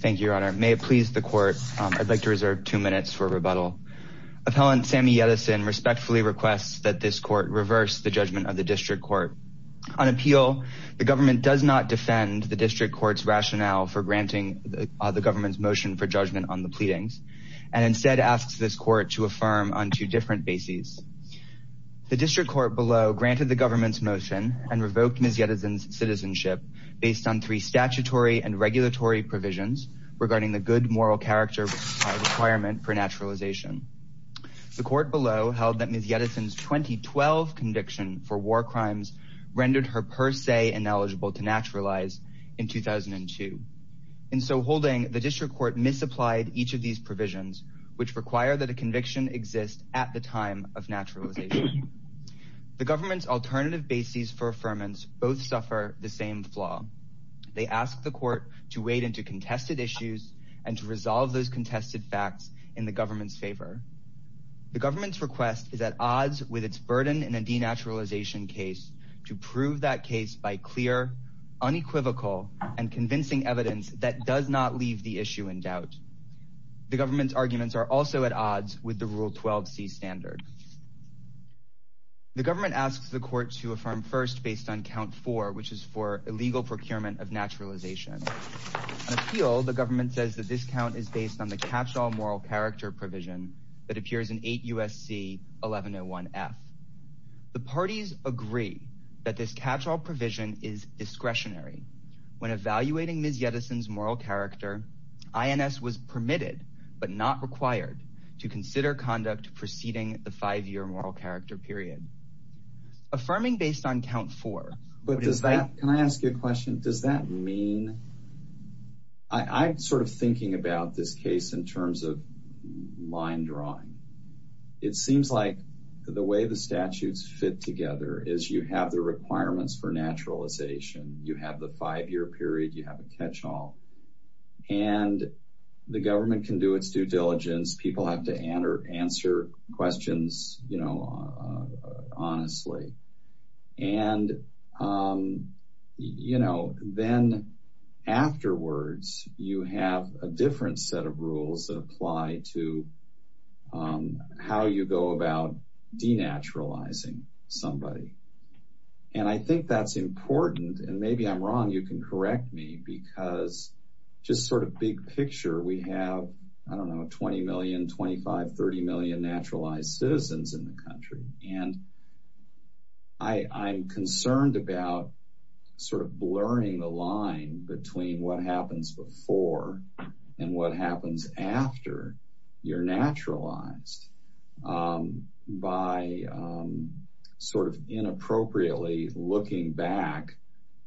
Thank you, Your Honor. May it please the Court, I'd like to reserve two minutes for rebuttal. Appellant Sammy Yetisen respectfully requests that this Court reverse the judgment of the District Court. On appeal, the government does not defend the District Court's rationale for granting the government's motion for judgment on the pleadings, and instead asks this Court to affirm on two different bases. The District Court below granted the government's motion and three provisions regarding the good moral character requirement for naturalization. The Court below held that Ms. Yetisen's 2012 conviction for war crimes rendered her per se ineligible to naturalize in 2002. In so holding, the District Court misapplied each of these provisions, which require that a conviction exist at the time of naturalization. The government's alternative bases for affirmance both suffer the same flaw. They ask the Court to wade into contested issues and to resolve those contested facts in the government's favor. The government's request is at odds with its burden in a denaturalization case to prove that case by clear, unequivocal, and convincing evidence that does not leave the issue in doubt. The government's arguments are also at odds with the Rule 12c standard. The government asks the Court to affirm first based on count four, which is for illegal procurement of naturalization. On appeal, the government says that this count is based on the catch-all moral character provision that appears in 8 U.S.C. 1101F. The parties agree that this catch-all provision is discretionary. When evaluating Ms. Yetisen's moral character, INS was permitted, but not required, to consider conduct preceding the five-year moral character period. Affirming based on count four... Can I ask you a question? Does that mean... I'm sort of thinking about this case in terms of line drawing. It seems like the way the statutes fit together is you have the requirements for naturalization, you have the five-year period, you have a catch-all, and the government can do its due diligence. People have to answer questions, you know, honestly. And, you know, then afterwards you have a different set of rules that apply to how you go about denaturalizing somebody. And I think that's important, and maybe I'm wrong, you can correct me, because just sort of big picture, we have, I don't know, 20 million, 25, 30 million naturalized citizens in the country. And I'm concerned about sort of blurring the line between what happens before and what happens after you're naturalized by sort of inappropriately looking back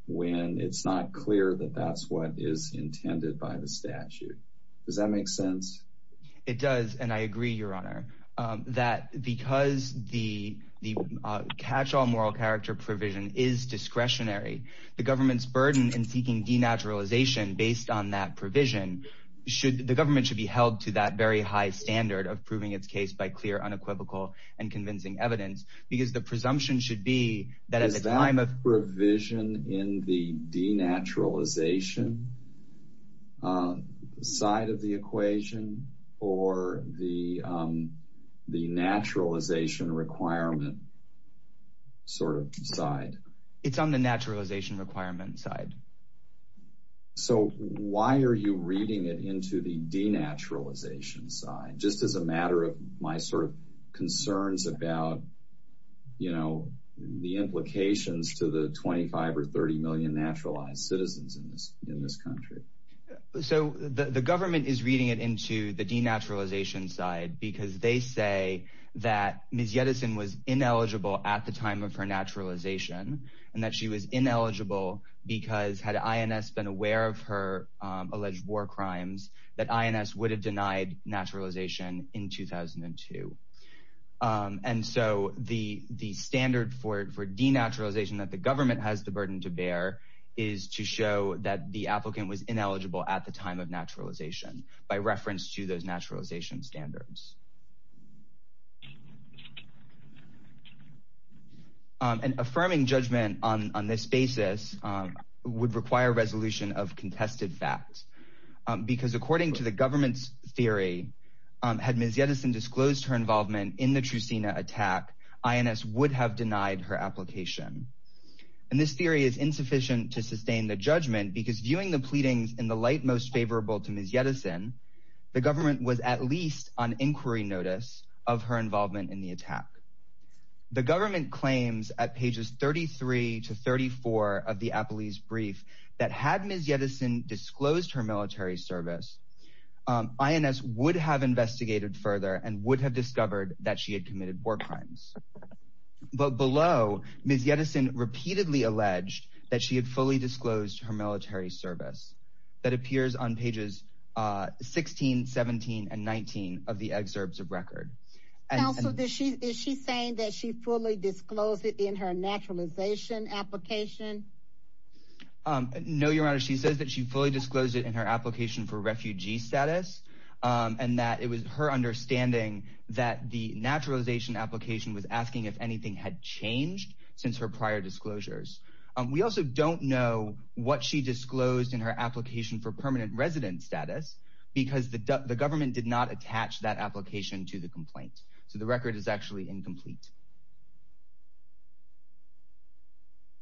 when it's not clear that that's what is in the statute. Does that make sense? It does, and I agree, Your Honor, that because the catch-all moral character provision is discretionary, the government's burden in seeking denaturalization based on that provision should, the government should be held to that very high standard of proving its case by clear unequivocal and convincing evidence, because the presumption should be that Is that provision in the denaturalization side of the equation, or the naturalization requirement sort of side? It's on the naturalization requirement side. So why are you reading it into the denaturalization side, just as a matter of my sort of concerns about, you know, the implications to the 25 or 30 million naturalized citizens in this in this country? So the government is reading it into the denaturalization side because they say that Ms. Yedison was ineligible at the time of her naturalization, and that she was ineligible because, had INS been aware of her alleged war crimes, that INS would have denied naturalization in 2002. And so the standard for denaturalization that the government has the burden to bear is to show that the applicant was ineligible at the time of naturalization, by reference to those naturalization standards. An affirming judgment on this basis would require resolution of the government's theory, had Ms. Yedison disclosed her involvement in the Trusina attack, INS would have denied her application. And this theory is insufficient to sustain the judgment, because viewing the pleadings in the light most favorable to Ms. Yedison, the government was at least on inquiry notice of her involvement in the attack. The government claims at pages 33 to 34 of the Apalis brief, that had Ms. Yedison disclosed her military service, INS would have investigated further and would have discovered that she had committed war crimes. But below, Ms. Yedison repeatedly alleged that she had fully disclosed her military service. That appears on pages 16, 17, and 19 of the excerpts of record. Counsel, is she saying that she fully disclosed it in her naturalization application? No, Your Honor, she says that she fully disclosed it in her application for refugee status, and that it was her understanding that the naturalization application was asking if anything had changed since her prior disclosures. We also don't know what she disclosed in her application for permanent resident status, because the government did not attach that application to the complaint. So the record is actually incomplete.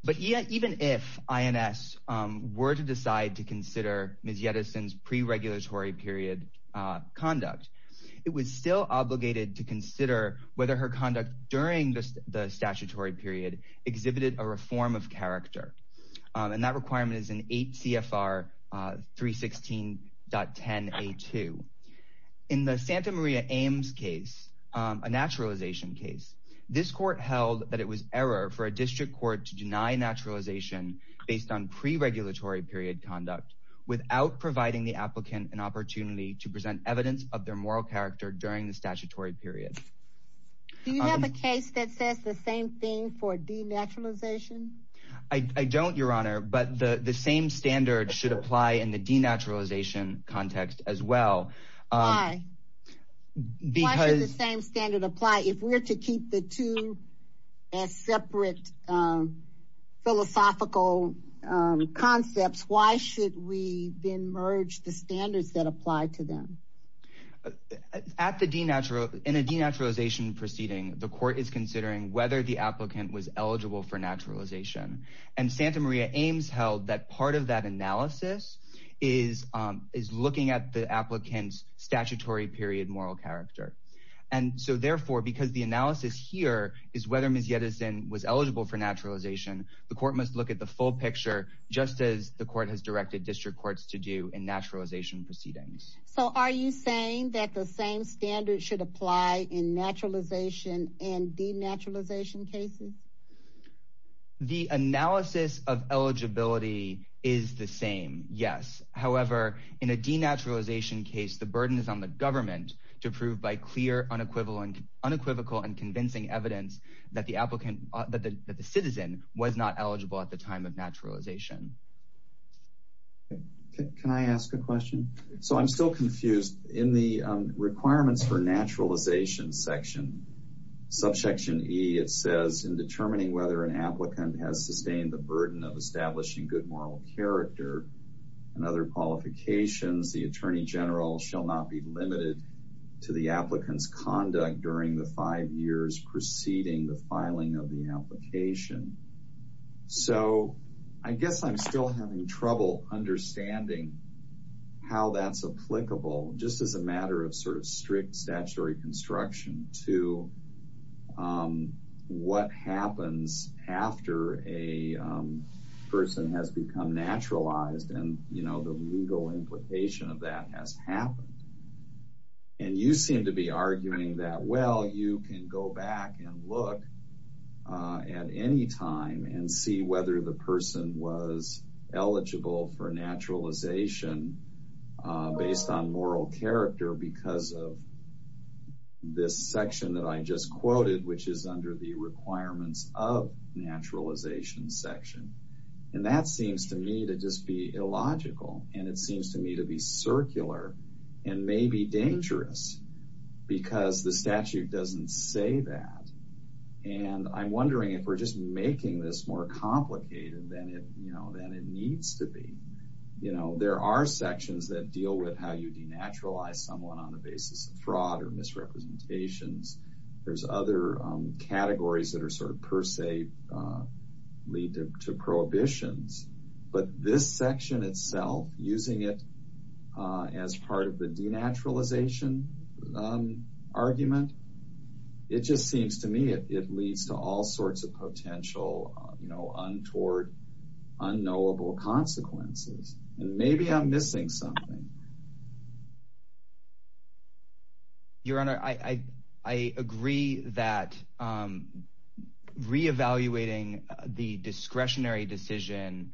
But even if INS were to decide to consider Ms. Yedison's pre-regulatory period conduct, it was still obligated to consider whether her conduct during the statutory period exhibited a reform of character. And that requirement is in 8 CFR 316.10a2. In the Santa Maria Ames case, a naturalization case, this court held that it was error for a district court to deny naturalization based on pre-regulatory period conduct without providing the applicant an opportunity to present evidence of their moral character during the statutory period. Do you have a case that says the same thing for denaturalization? I don't, Your Honor, but the the same standard should apply in the denaturalization context as well. Why should the same standard apply if we're to keep the two as separate philosophical concepts, why should we then merge the standards that apply to them? In a denaturalization proceeding, the court is considering whether the applicant was eligible for naturalization. And Santa Maria Ames held that part of that analysis is looking at the applicant's statutory period moral character. And so therefore, because the analysis here is whether Ms. Yedison was eligible for naturalization, the court must look at the full picture just as the court has directed district courts to do in naturalization proceedings. So are you saying that the same standard should apply in naturalization and denaturalization cases? The analysis of eligibility is the same, yes. However, in a denaturalization case, the burden is on the government to prove by clear, unequivocal, and convincing evidence that the citizen was not eligible at the time of naturalization. Can I ask a question? So I'm still confused. In the requirements for naturalization section, subsection E, it says in determining whether an applicant has sustained the burden of establishing good moral character and other qualifications, the attorney general shall not be limited to the applicant's conduct during the five years preceding the filing of the application. So I guess I'm still having trouble understanding how that's applicable just as a matter of sort of strict statutory construction to what happens after a person has become naturalized and, you know, the legal implication of that has happened. And you seem to be arguing that, well, you can go back and look at any time and see whether the person was eligible for naturalization based on moral character because of this section that I just mentioned, the requirements of naturalization section. And that seems to me to just be illogical and it seems to me to be circular and maybe dangerous because the statute doesn't say that. And I'm wondering if we're just making this more complicated than it, you know, than it needs to be. You know, there are sections that deal with how you denaturalize someone on the basis of fraud or sort of per se lead to prohibitions. But this section itself, using it as part of the denaturalization argument, it just seems to me it leads to all sorts of potential, you know, untoward, unknowable consequences. And maybe I'm missing something. Your Honor, I agree that re-evaluating the discretionary decision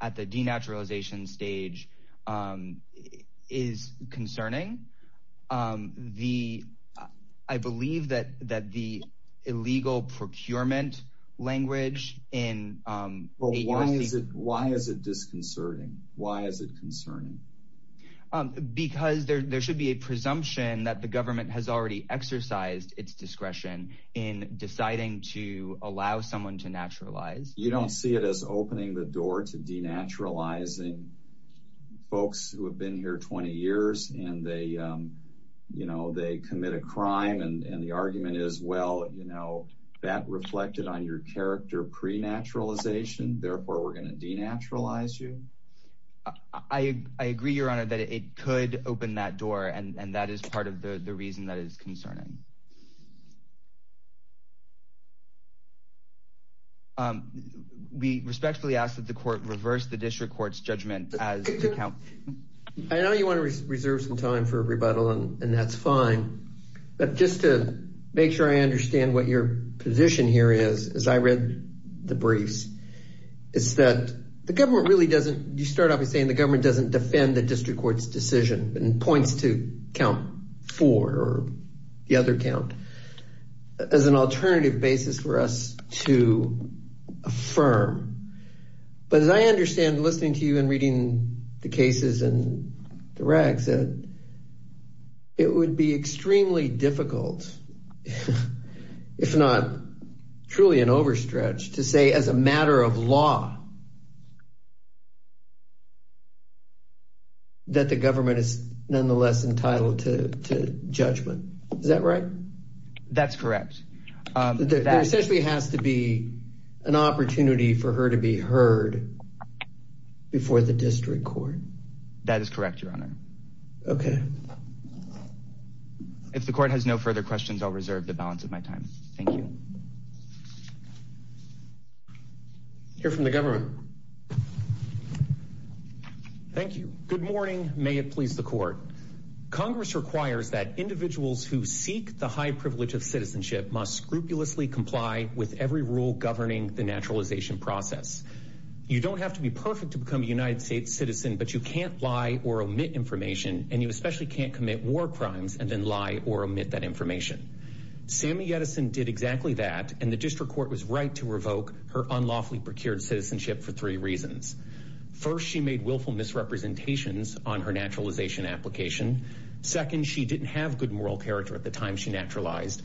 at the denaturalization stage is concerning. I believe that the illegal procurement language in... Well, why is it disconcerting? Why is it concerning? Because there should be a presumption that the government has already exercised its discretion in deciding to allow someone to naturalize. You don't see it as opening the door to denaturalizing folks who have been here 20 years and they, you know, they commit a crime and the argument is, well, you know, that reflected on your character pre-naturalization, therefore we're gonna denaturalize you. I agree, Your Honor, that it could open that door and that is part of the reason that is concerning. We respectfully ask that the court reverse the district court's judgment as... I know you want to reserve some time for a rebuttal and that's fine, but just to make sure I understand what your position here is, as I read the briefs, is that the government really doesn't, you start off with saying the government doesn't defend the district court's decision and points to count four or the other count as an alternative basis for us to affirm. But as I understand, listening to you and reading the cases and the regs, it would be extremely difficult, if not truly an overstretch, to say as a matter of law, that the government is nonetheless entitled to judgment. Is that right? That's correct. There essentially has to be an opportunity for her to be heard before the district court. That is correct, Your Honor. Okay. If the court has no further questions, I'll reserve the balance of my time. Thank you. Hear from the government. Thank you. Good morning. May it please the court. Congress requires that individuals who seek the high privilege of citizenship must scrupulously comply with every rule governing the naturalization process. You don't have to be perfect to become a United States citizen, but you can't lie or omit information, and you especially can't commit war crimes and then lie or omit that information. Sammy Edison did exactly that, and the district court was right to revoke her unlawfully procured citizenship for three reasons. First, she made willful misrepresentations on her naturalization application. Second, she didn't have good moral character at the time she naturalized.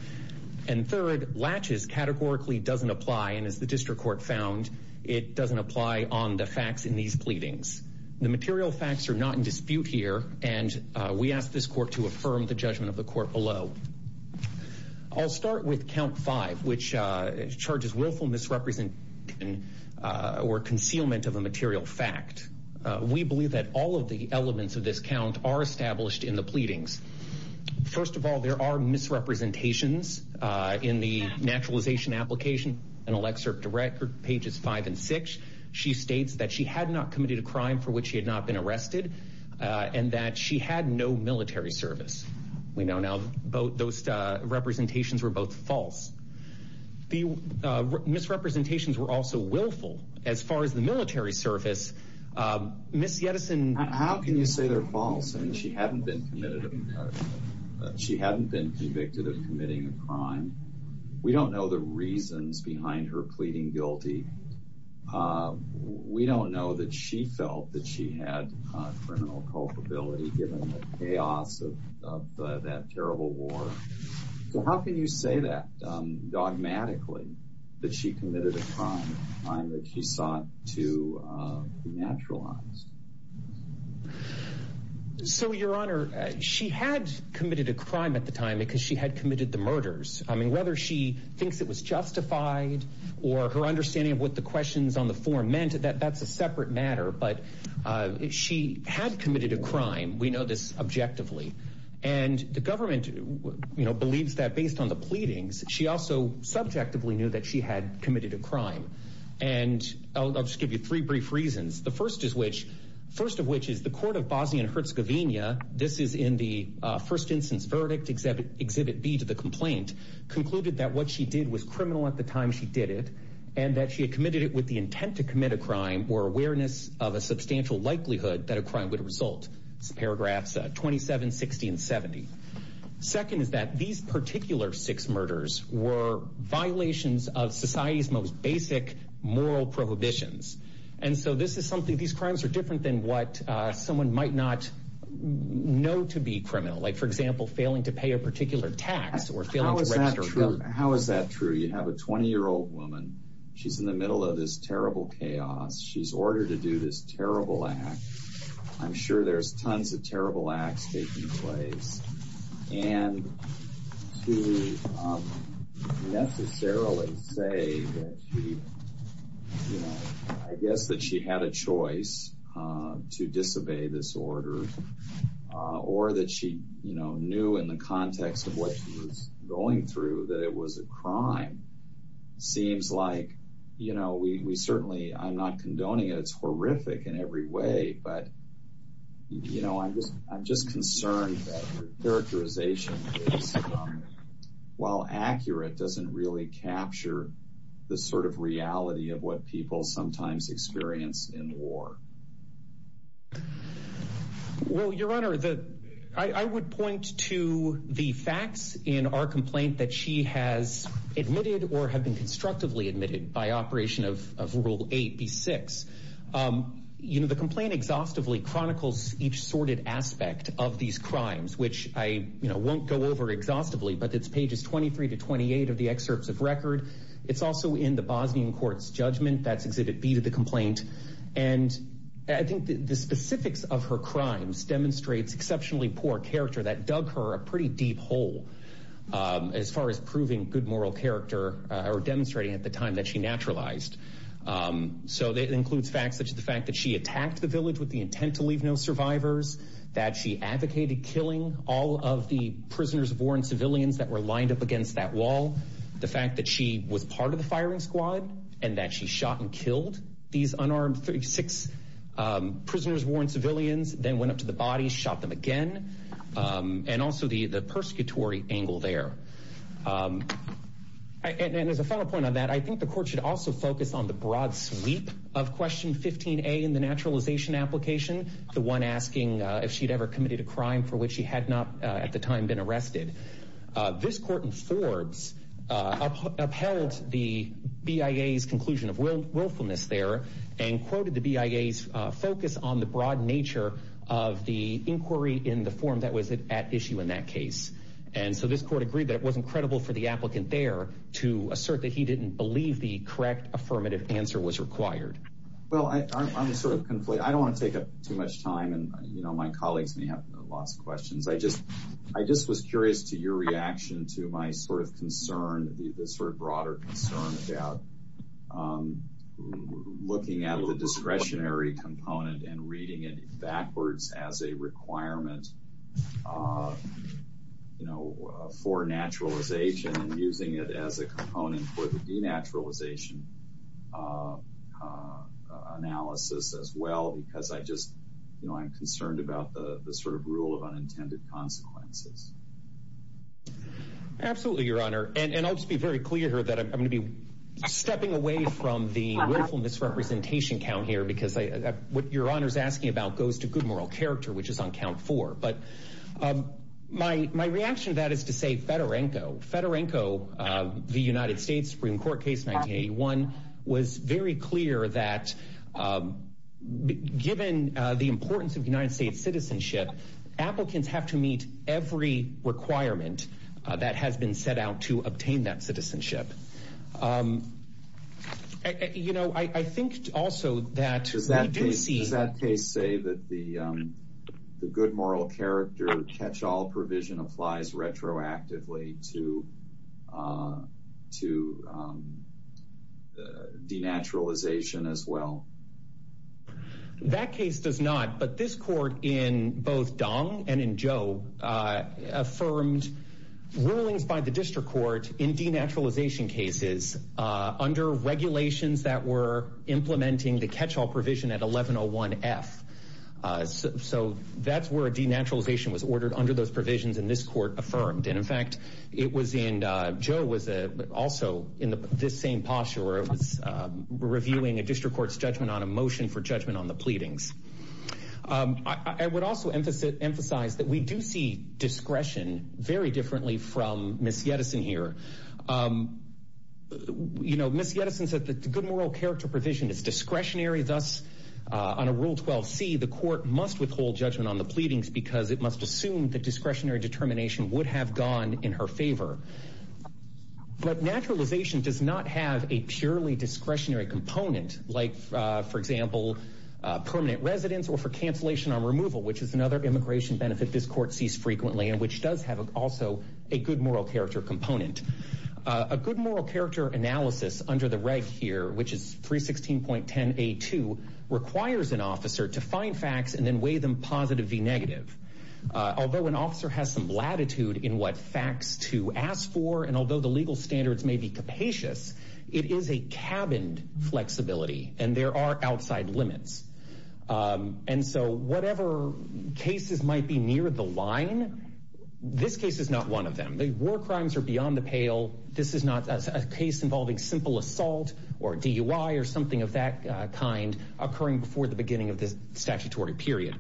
And third, laches categorically doesn't apply, and as the district court found, it doesn't apply on the facts in these pleadings. The material facts are not in dispute here, and we ask this court to affirm the judgment of the court below. I'll start with count five, which charges willful misrepresentation or concealment of a material fact. We believe that all of the elements of this count are established in the pleadings. First of all, there are misrepresentations in the naturalization application. In Alexa direct pages five and six, she states that she had not committed a crime for which she had not been arrested, and that she had no military service. We know now those representations were both false. The misrepresentations were also willful. As far as the military service, Ms. Yedison... How can you say they're false? I mean, she hadn't been convicted of committing a crime. We don't know the reasons behind her pleading guilty. We don't know that she felt that she had criminal culpability given the chaos of that terrible war. So how can you say that dogmatically, that she committed a crime, a crime that she sought to naturalize? So, Your Honor, she had committed a crime at the time because she had committed the murders. I mean, whether she thinks it was justified or her understanding of what the questions on the form meant, that that's a separate matter. But she had committed a crime. We know this objectively. And the government believes that based on the pleadings, she also subjectively knew that she had committed a crime. And I'll just give you three brief reasons. The first is which first of which is the court of Bosnia and Herzegovina. This is in the first instance verdict exhibit exhibit B to the complaint. Concluded that what she did was criminal at the time she did it and that she had committed it with the intent to commit a crime or awareness of a substantial likelihood that a crime would result. Paragraphs 27, 60 and 70. Second, is that these particular six murders were violations of society's most basic moral prohibitions. And so this is something these crimes are different than what someone might not know to be criminal. Like, for example, failing to pay a particular tax or failing to register. How is that true? You have a 20 year old woman. She's in the middle of this terrible chaos. She's ordered to do this terrible act. I'm sure there's tons of terrible acts taking place. And to necessarily say that she, you know, I guess that she had a choice to disobey this order or that she, you know, knew in the context of what she was going through that it was a crime seems like, you know, we certainly I'm not condoning it. It's horrific in every way. But, you know, I'm just I'm just concerned that characterization while accurate doesn't really capture the sort of reality of what people sometimes experience in war. Well, your Honor, I would point to the facts in our complaint that she has admitted or have been constructively admitted by operation of of Rule 8B-6. You know, the complaint exhaustively chronicles each sorted aspect of these crimes, which I won't go over exhaustively, but it's pages 23 to 28 of the excerpts of record. It's also in the Bosnian court's judgment. That's Exhibit B to the complaint. And I think the specifics of her crimes demonstrates exceptionally poor character that dug her a pretty deep hole as far as proving good moral character or demonstrating at the time that she naturalized. So that includes facts such as the fact that she attacked the village with the intent to leave no survivors, that she advocated killing all of the prisoners of war and civilians that were lined up against that wall, the fact that she was part of the firing squad and that she shot and killed these unarmed six prisoners, war and civilians, then went up to the bodies, shot them again. And also the the persecutory angle there. And as a final point on that, I think the court should also focus on the broad sweep of Question 15A in the naturalization application, the one asking if she'd ever committed a crime for which she had not at the time been arrested. This court in Forbes upheld the BIA's conclusion of willfulness there and quoted the BIA's focus on the broad nature of the inquiry in the form that was at issue in that case. And so this court agreed that it wasn't credible for the applicant there to assert that he didn't believe the correct affirmative answer was required. Well, I'm sort of conflicted. I don't want to take up too much time. And, you know, my colleagues may have lots of questions. I just I just was curious to your reaction to my sort of concern, the sort of broader concern about looking at the discretionary component and reading it backwards as a requirement, you know, for naturalization and using it as a component for the denaturalization analysis as well, because I just, you know, I'm concerned about the sort of rule of unintended consequences. Absolutely, Your Honor, and I'll just be very clear here that I'm going to be stepping away from the willfulness representation count here because what Your Honor is asking about goes to good moral character, which is on count four. But my reaction to that is to say Fedorenko, Fedorenko, the United States Supreme Court case 1981 was very clear that given the importance of United States citizenship, applicants have to meet every requirement that has been set out to obtain that citizenship. You know, I think also that we do see that case say that the good moral character catch all provision applies retroactively to denaturalization as well. That case does not, but this court in both Dong and in Joe affirmed rulings by the district court in denaturalization cases under regulations that were implementing the catch all provision at 1101 F. So that's where denaturalization was ordered under those provisions in this court affirmed. And in fact, it was in Joe was also in this same posture where it was reviewing a district court's judgment on a motion for judgment on the pleadings. I would also emphasize that we do see discretion very differently from Miss Yedison here. You know, Miss Yedison said that the good moral character provision is discretionary, thus on a rule 12 C, the court must withhold judgment on the pleadings because it must assume that discretionary determination would have gone in her favor. But naturalization does not have a purely discretionary component like, for example, permanent residence or for cancellation on removal, which is another immigration benefit this court sees frequently and which does have also a good moral character component, a case involving a person or an officer to find facts and then weigh them positive, V negative. Although an officer has some latitude in what facts to ask for and although the legal standards may be capacious, it is a cabined flexibility and there are outside limits. And so whatever cases might be near the line, this case is not one of them. The war crimes are beyond the pale. This is not a case involving simple assault or DUI or something of that kind occurring before the beginning of the statutory period.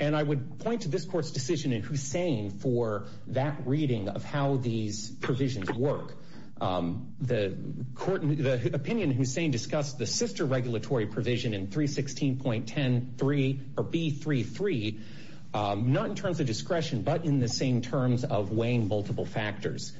And I would point to this court's decision in Hussain for that reading of how these provisions work. The court, the opinion Hussain discussed the sister regulatory provision in 316.10 3 or B 3 3, not in terms of discretion, but in the same terms of weighing multiple factors.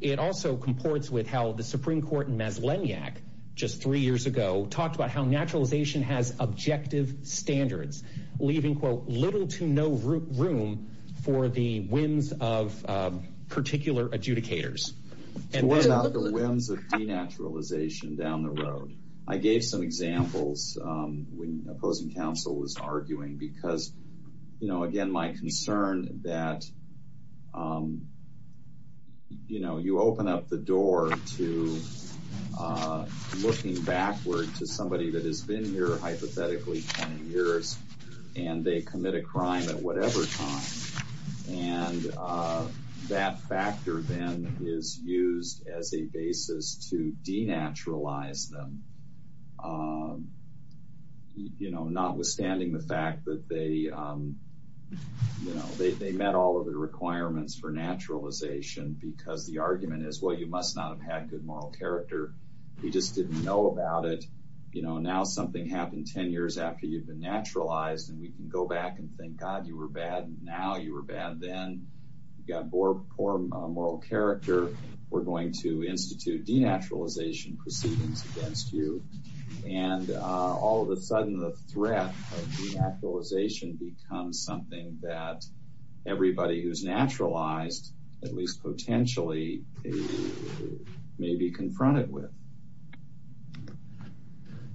It also comports with how the Supreme Court in Meslenyak just three years ago talked about how naturalization has objective standards, leaving, quote, little to no room for the whims of particular adjudicators. And what about the whims of denaturalization down the road? I gave some examples when opposing counsel was arguing because, you know, again, my words to somebody that has been here hypothetically 20 years and they commit a crime at whatever time. And that factor then is used as a basis to denaturalize them. You know, notwithstanding the fact that they, you know, they met all of the requirements for naturalization because the argument is, well, you must not have had good moral character. You just didn't know about it. You know, now something happened 10 years after you've been naturalized and we can go back and think, God, you were bad now. You were bad. Then you got more poor moral character. We're going to institute denaturalization proceedings against you. And all of a sudden, the threat of denaturalization becomes something that everybody who's naturalized, at least potentially, may be confronted with.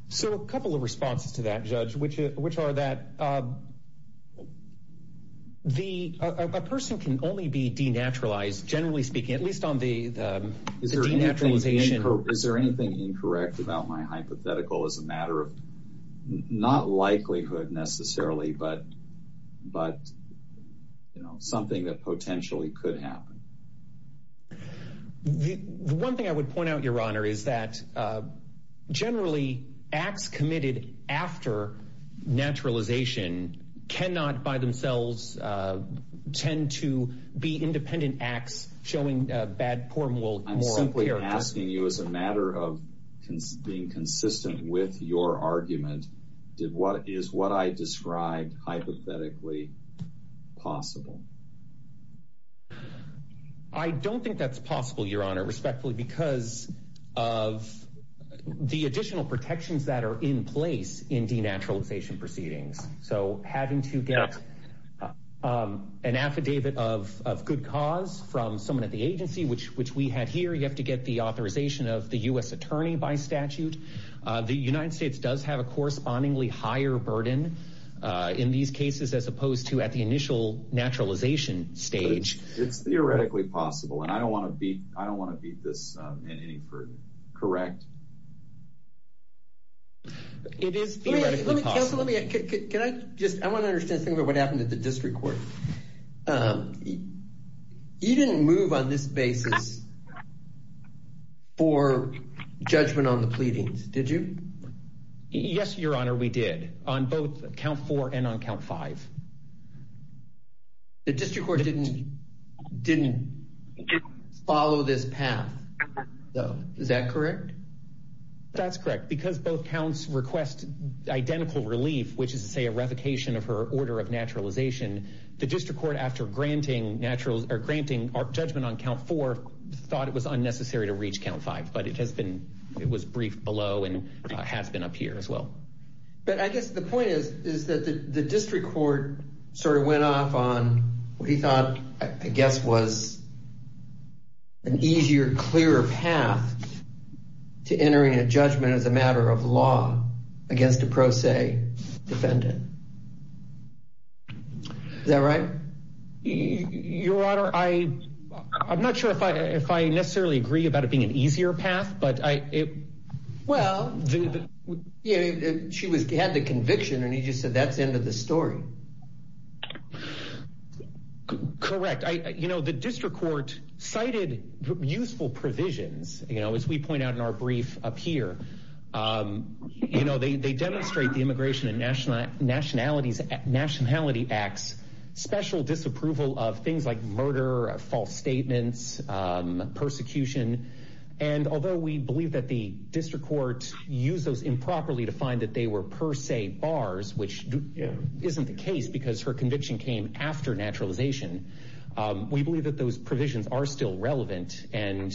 So a couple of responses to that, Judge, which are that a person can only be denaturalized, generally speaking, at least on the denaturalization. Is there anything incorrect about my hypothetical as a matter of not likelihood, necessarily, but but, you know, something that potentially could happen? The one thing I would point out, Your Honor, is that generally acts committed after naturalization cannot by themselves tend to be independent acts showing bad, poor, moral character. I'm simply asking you as a matter of being consistent with your argument, is what I described hypothetically possible? I don't think that's possible, Your Honor, respectfully, because of the additional protections that are in place in denaturalization proceedings. So having to get an affidavit of good cause from someone at the agency, which which we had here, you have to get the authorization of the U.S. attorney by statute. The United States does have a correspondingly higher burden in these cases, as opposed to at the initial naturalization stage. It's theoretically possible. And I don't want to beat I don't want to beat this in any further, correct? It is possible. Can I just I want to understand what happened at the district court. You didn't move on this basis for judgment on the pleadings, did you? Yes, Your Honor, we did on both count four and on count five. The district court didn't didn't follow this path, though, is that correct? That's correct, because both counts request identical relief, which is to say a ratification of her order of naturalization. The district court, after granting judgment on count four, thought it was unnecessary to reach count five. But it has been it was briefed below and has been up here as well. But I guess the point is, is that the district court sort of went off on what he thought, I guess, was an easier, clearer path to entering a judgment as a matter of law against a pro se defendant. Is that right? Your Honor, I I'm not sure if I if I necessarily agree about it being an easier path, but I it. Well, she was had the conviction and he just said, that's the end of the story. Correct. You know, the district court cited useful provisions, you know, as we point out in our brief up here, you know, they demonstrate the immigration and national nationalities at nationality acts, special disapproval of things like murder, false statements, persecution. And although we believe that the district court used those improperly to find that they were per se bars, which isn't the case because her conviction came after naturalization, we believe that those provisions are still relevant. And,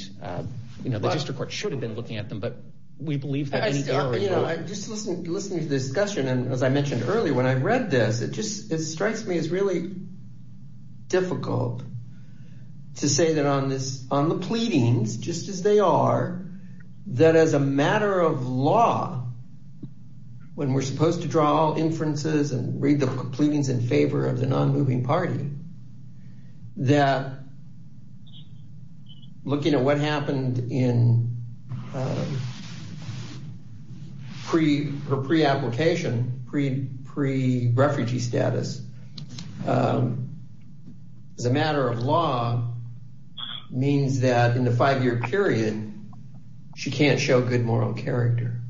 you know, the district court should have been looking at them. But we believe that, you know, just listen, listen to the discussion. And as I mentioned earlier, when I read this, it just it strikes me as really difficult to say that on this on the pleadings, just as they are, that as a matter of law, when we're supposed to draw inferences and read the pleadings in favor of the non-moving party, that looking at what happened in pre or pre-application, pre, pre-refugee status, as a matter of law means that in the five year period, she can't show good moral character.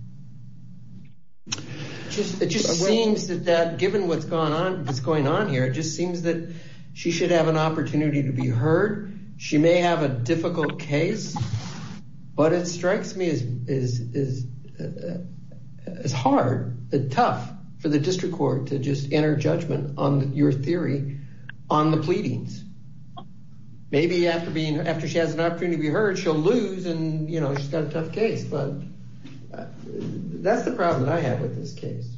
Just it just seems that that given what's going on, what's going on here, it just seems that she should have an opportunity to be heard. She may have a difficult case, but it strikes me as hard, tough for the district court to just enter judgment on your theory on the pleadings. Maybe after being after she has an opportunity to be heard, she'll lose. And, you know, she's got a tough case. But that's the problem that I have with this case.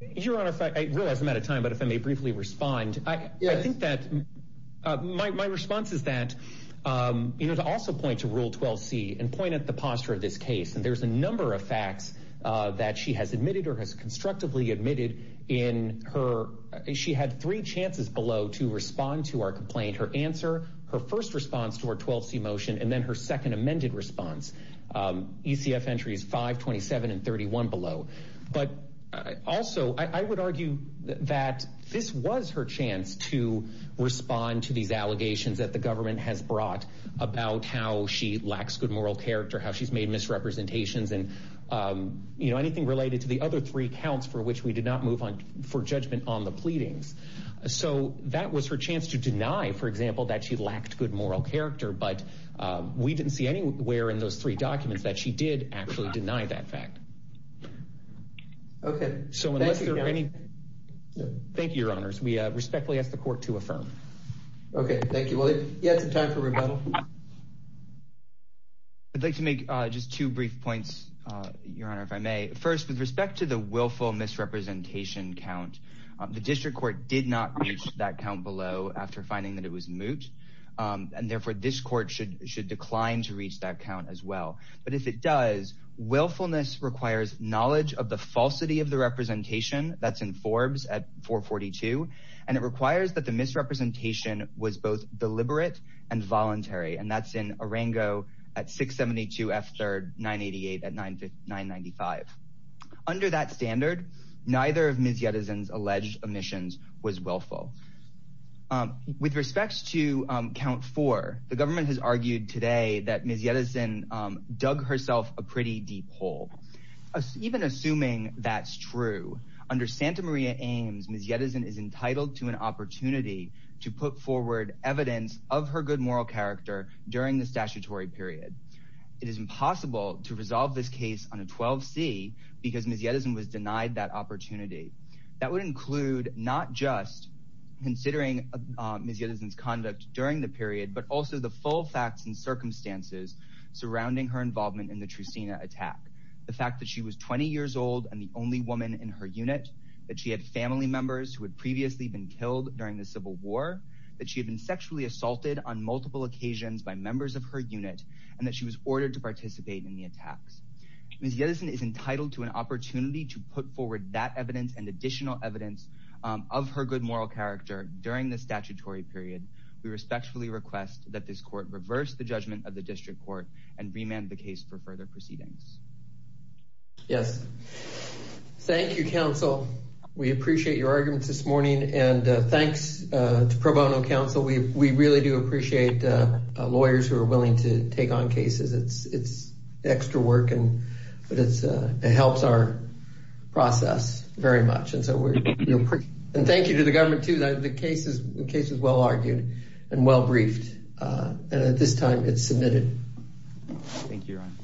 Your Honor, I realize I'm out of time, but if I may briefly respond, I think that my response is that, you know, to also point to Rule 12C and point at the posture of this case. And there's a number of facts that she has admitted or has constructively admitted in her. She had three chances below to respond to our complaint, her answer, her first response to our 12C motion, and then her second amended response. ECF entries 5, 27 and 31 below. But also, I would argue that this was her chance to respond to these allegations that the government has brought about how she lacks good moral character, how she's made misrepresentations and, you know, anything related to the other three counts for which we did not move on for judgment on the pleadings. So that was her chance to deny, for example, that she lacked good moral character. But we didn't see anywhere in those three documents that she did actually deny that fact. Okay. Thank you, Your Honors. We respectfully ask the court to affirm. Okay. Thank you. Well, if you have some time for rebuttal. I'd like to make just two brief points, Your Honor, if I may. First, with respect to the willful misrepresentation count, the district court did not reach that count below after finding that it was moot. And therefore, this court should decline to reach that count as well. But if it does, willfulness requires knowledge of the falsity of the representation. That's in Forbes at 442. And it requires that the misrepresentation was both deliberate and voluntary. And that's in Arango at 672 F. 3rd, 988 at 995. Under that standard, neither of Ms. Yetison's alleged omissions was willful. With respect to count four, the government has argued today that Ms. Yetison dug herself a pretty deep hole. Even assuming that's true, under Santa Maria Ames, Ms. Yetison is entitled to an opportunity to put forward evidence of her good moral character during the statutory period. It is impossible to resolve this case on a 12C because Ms. Yetison was denied that opportunity. That would include not just considering Ms. Yetison's conduct during the period, but also the full facts and circumstances surrounding her involvement in the Trustina attack. The fact that she was 20 years old and the only woman in her unit, that she had family members who had previously been killed during the Civil War, that she had been sexually assaulted on multiple occasions by members of her unit, and that she was ordered to participate in the attacks. Ms. Yetison is entitled to an opportunity to put forward that evidence and additional evidence of her good moral character during the statutory period. We respectfully request that this court reverse the judgment of the district court and remand the case for further proceedings. Yes. Thank you, counsel. We appreciate your arguments this morning. And thanks to pro bono counsel. We really do appreciate lawyers who are willing to take on cases. It's extra work, but it helps our process very much. And thank you to the government, too. The case is well argued and well briefed. And at this time, it's submitted. Thank you, Your Honor.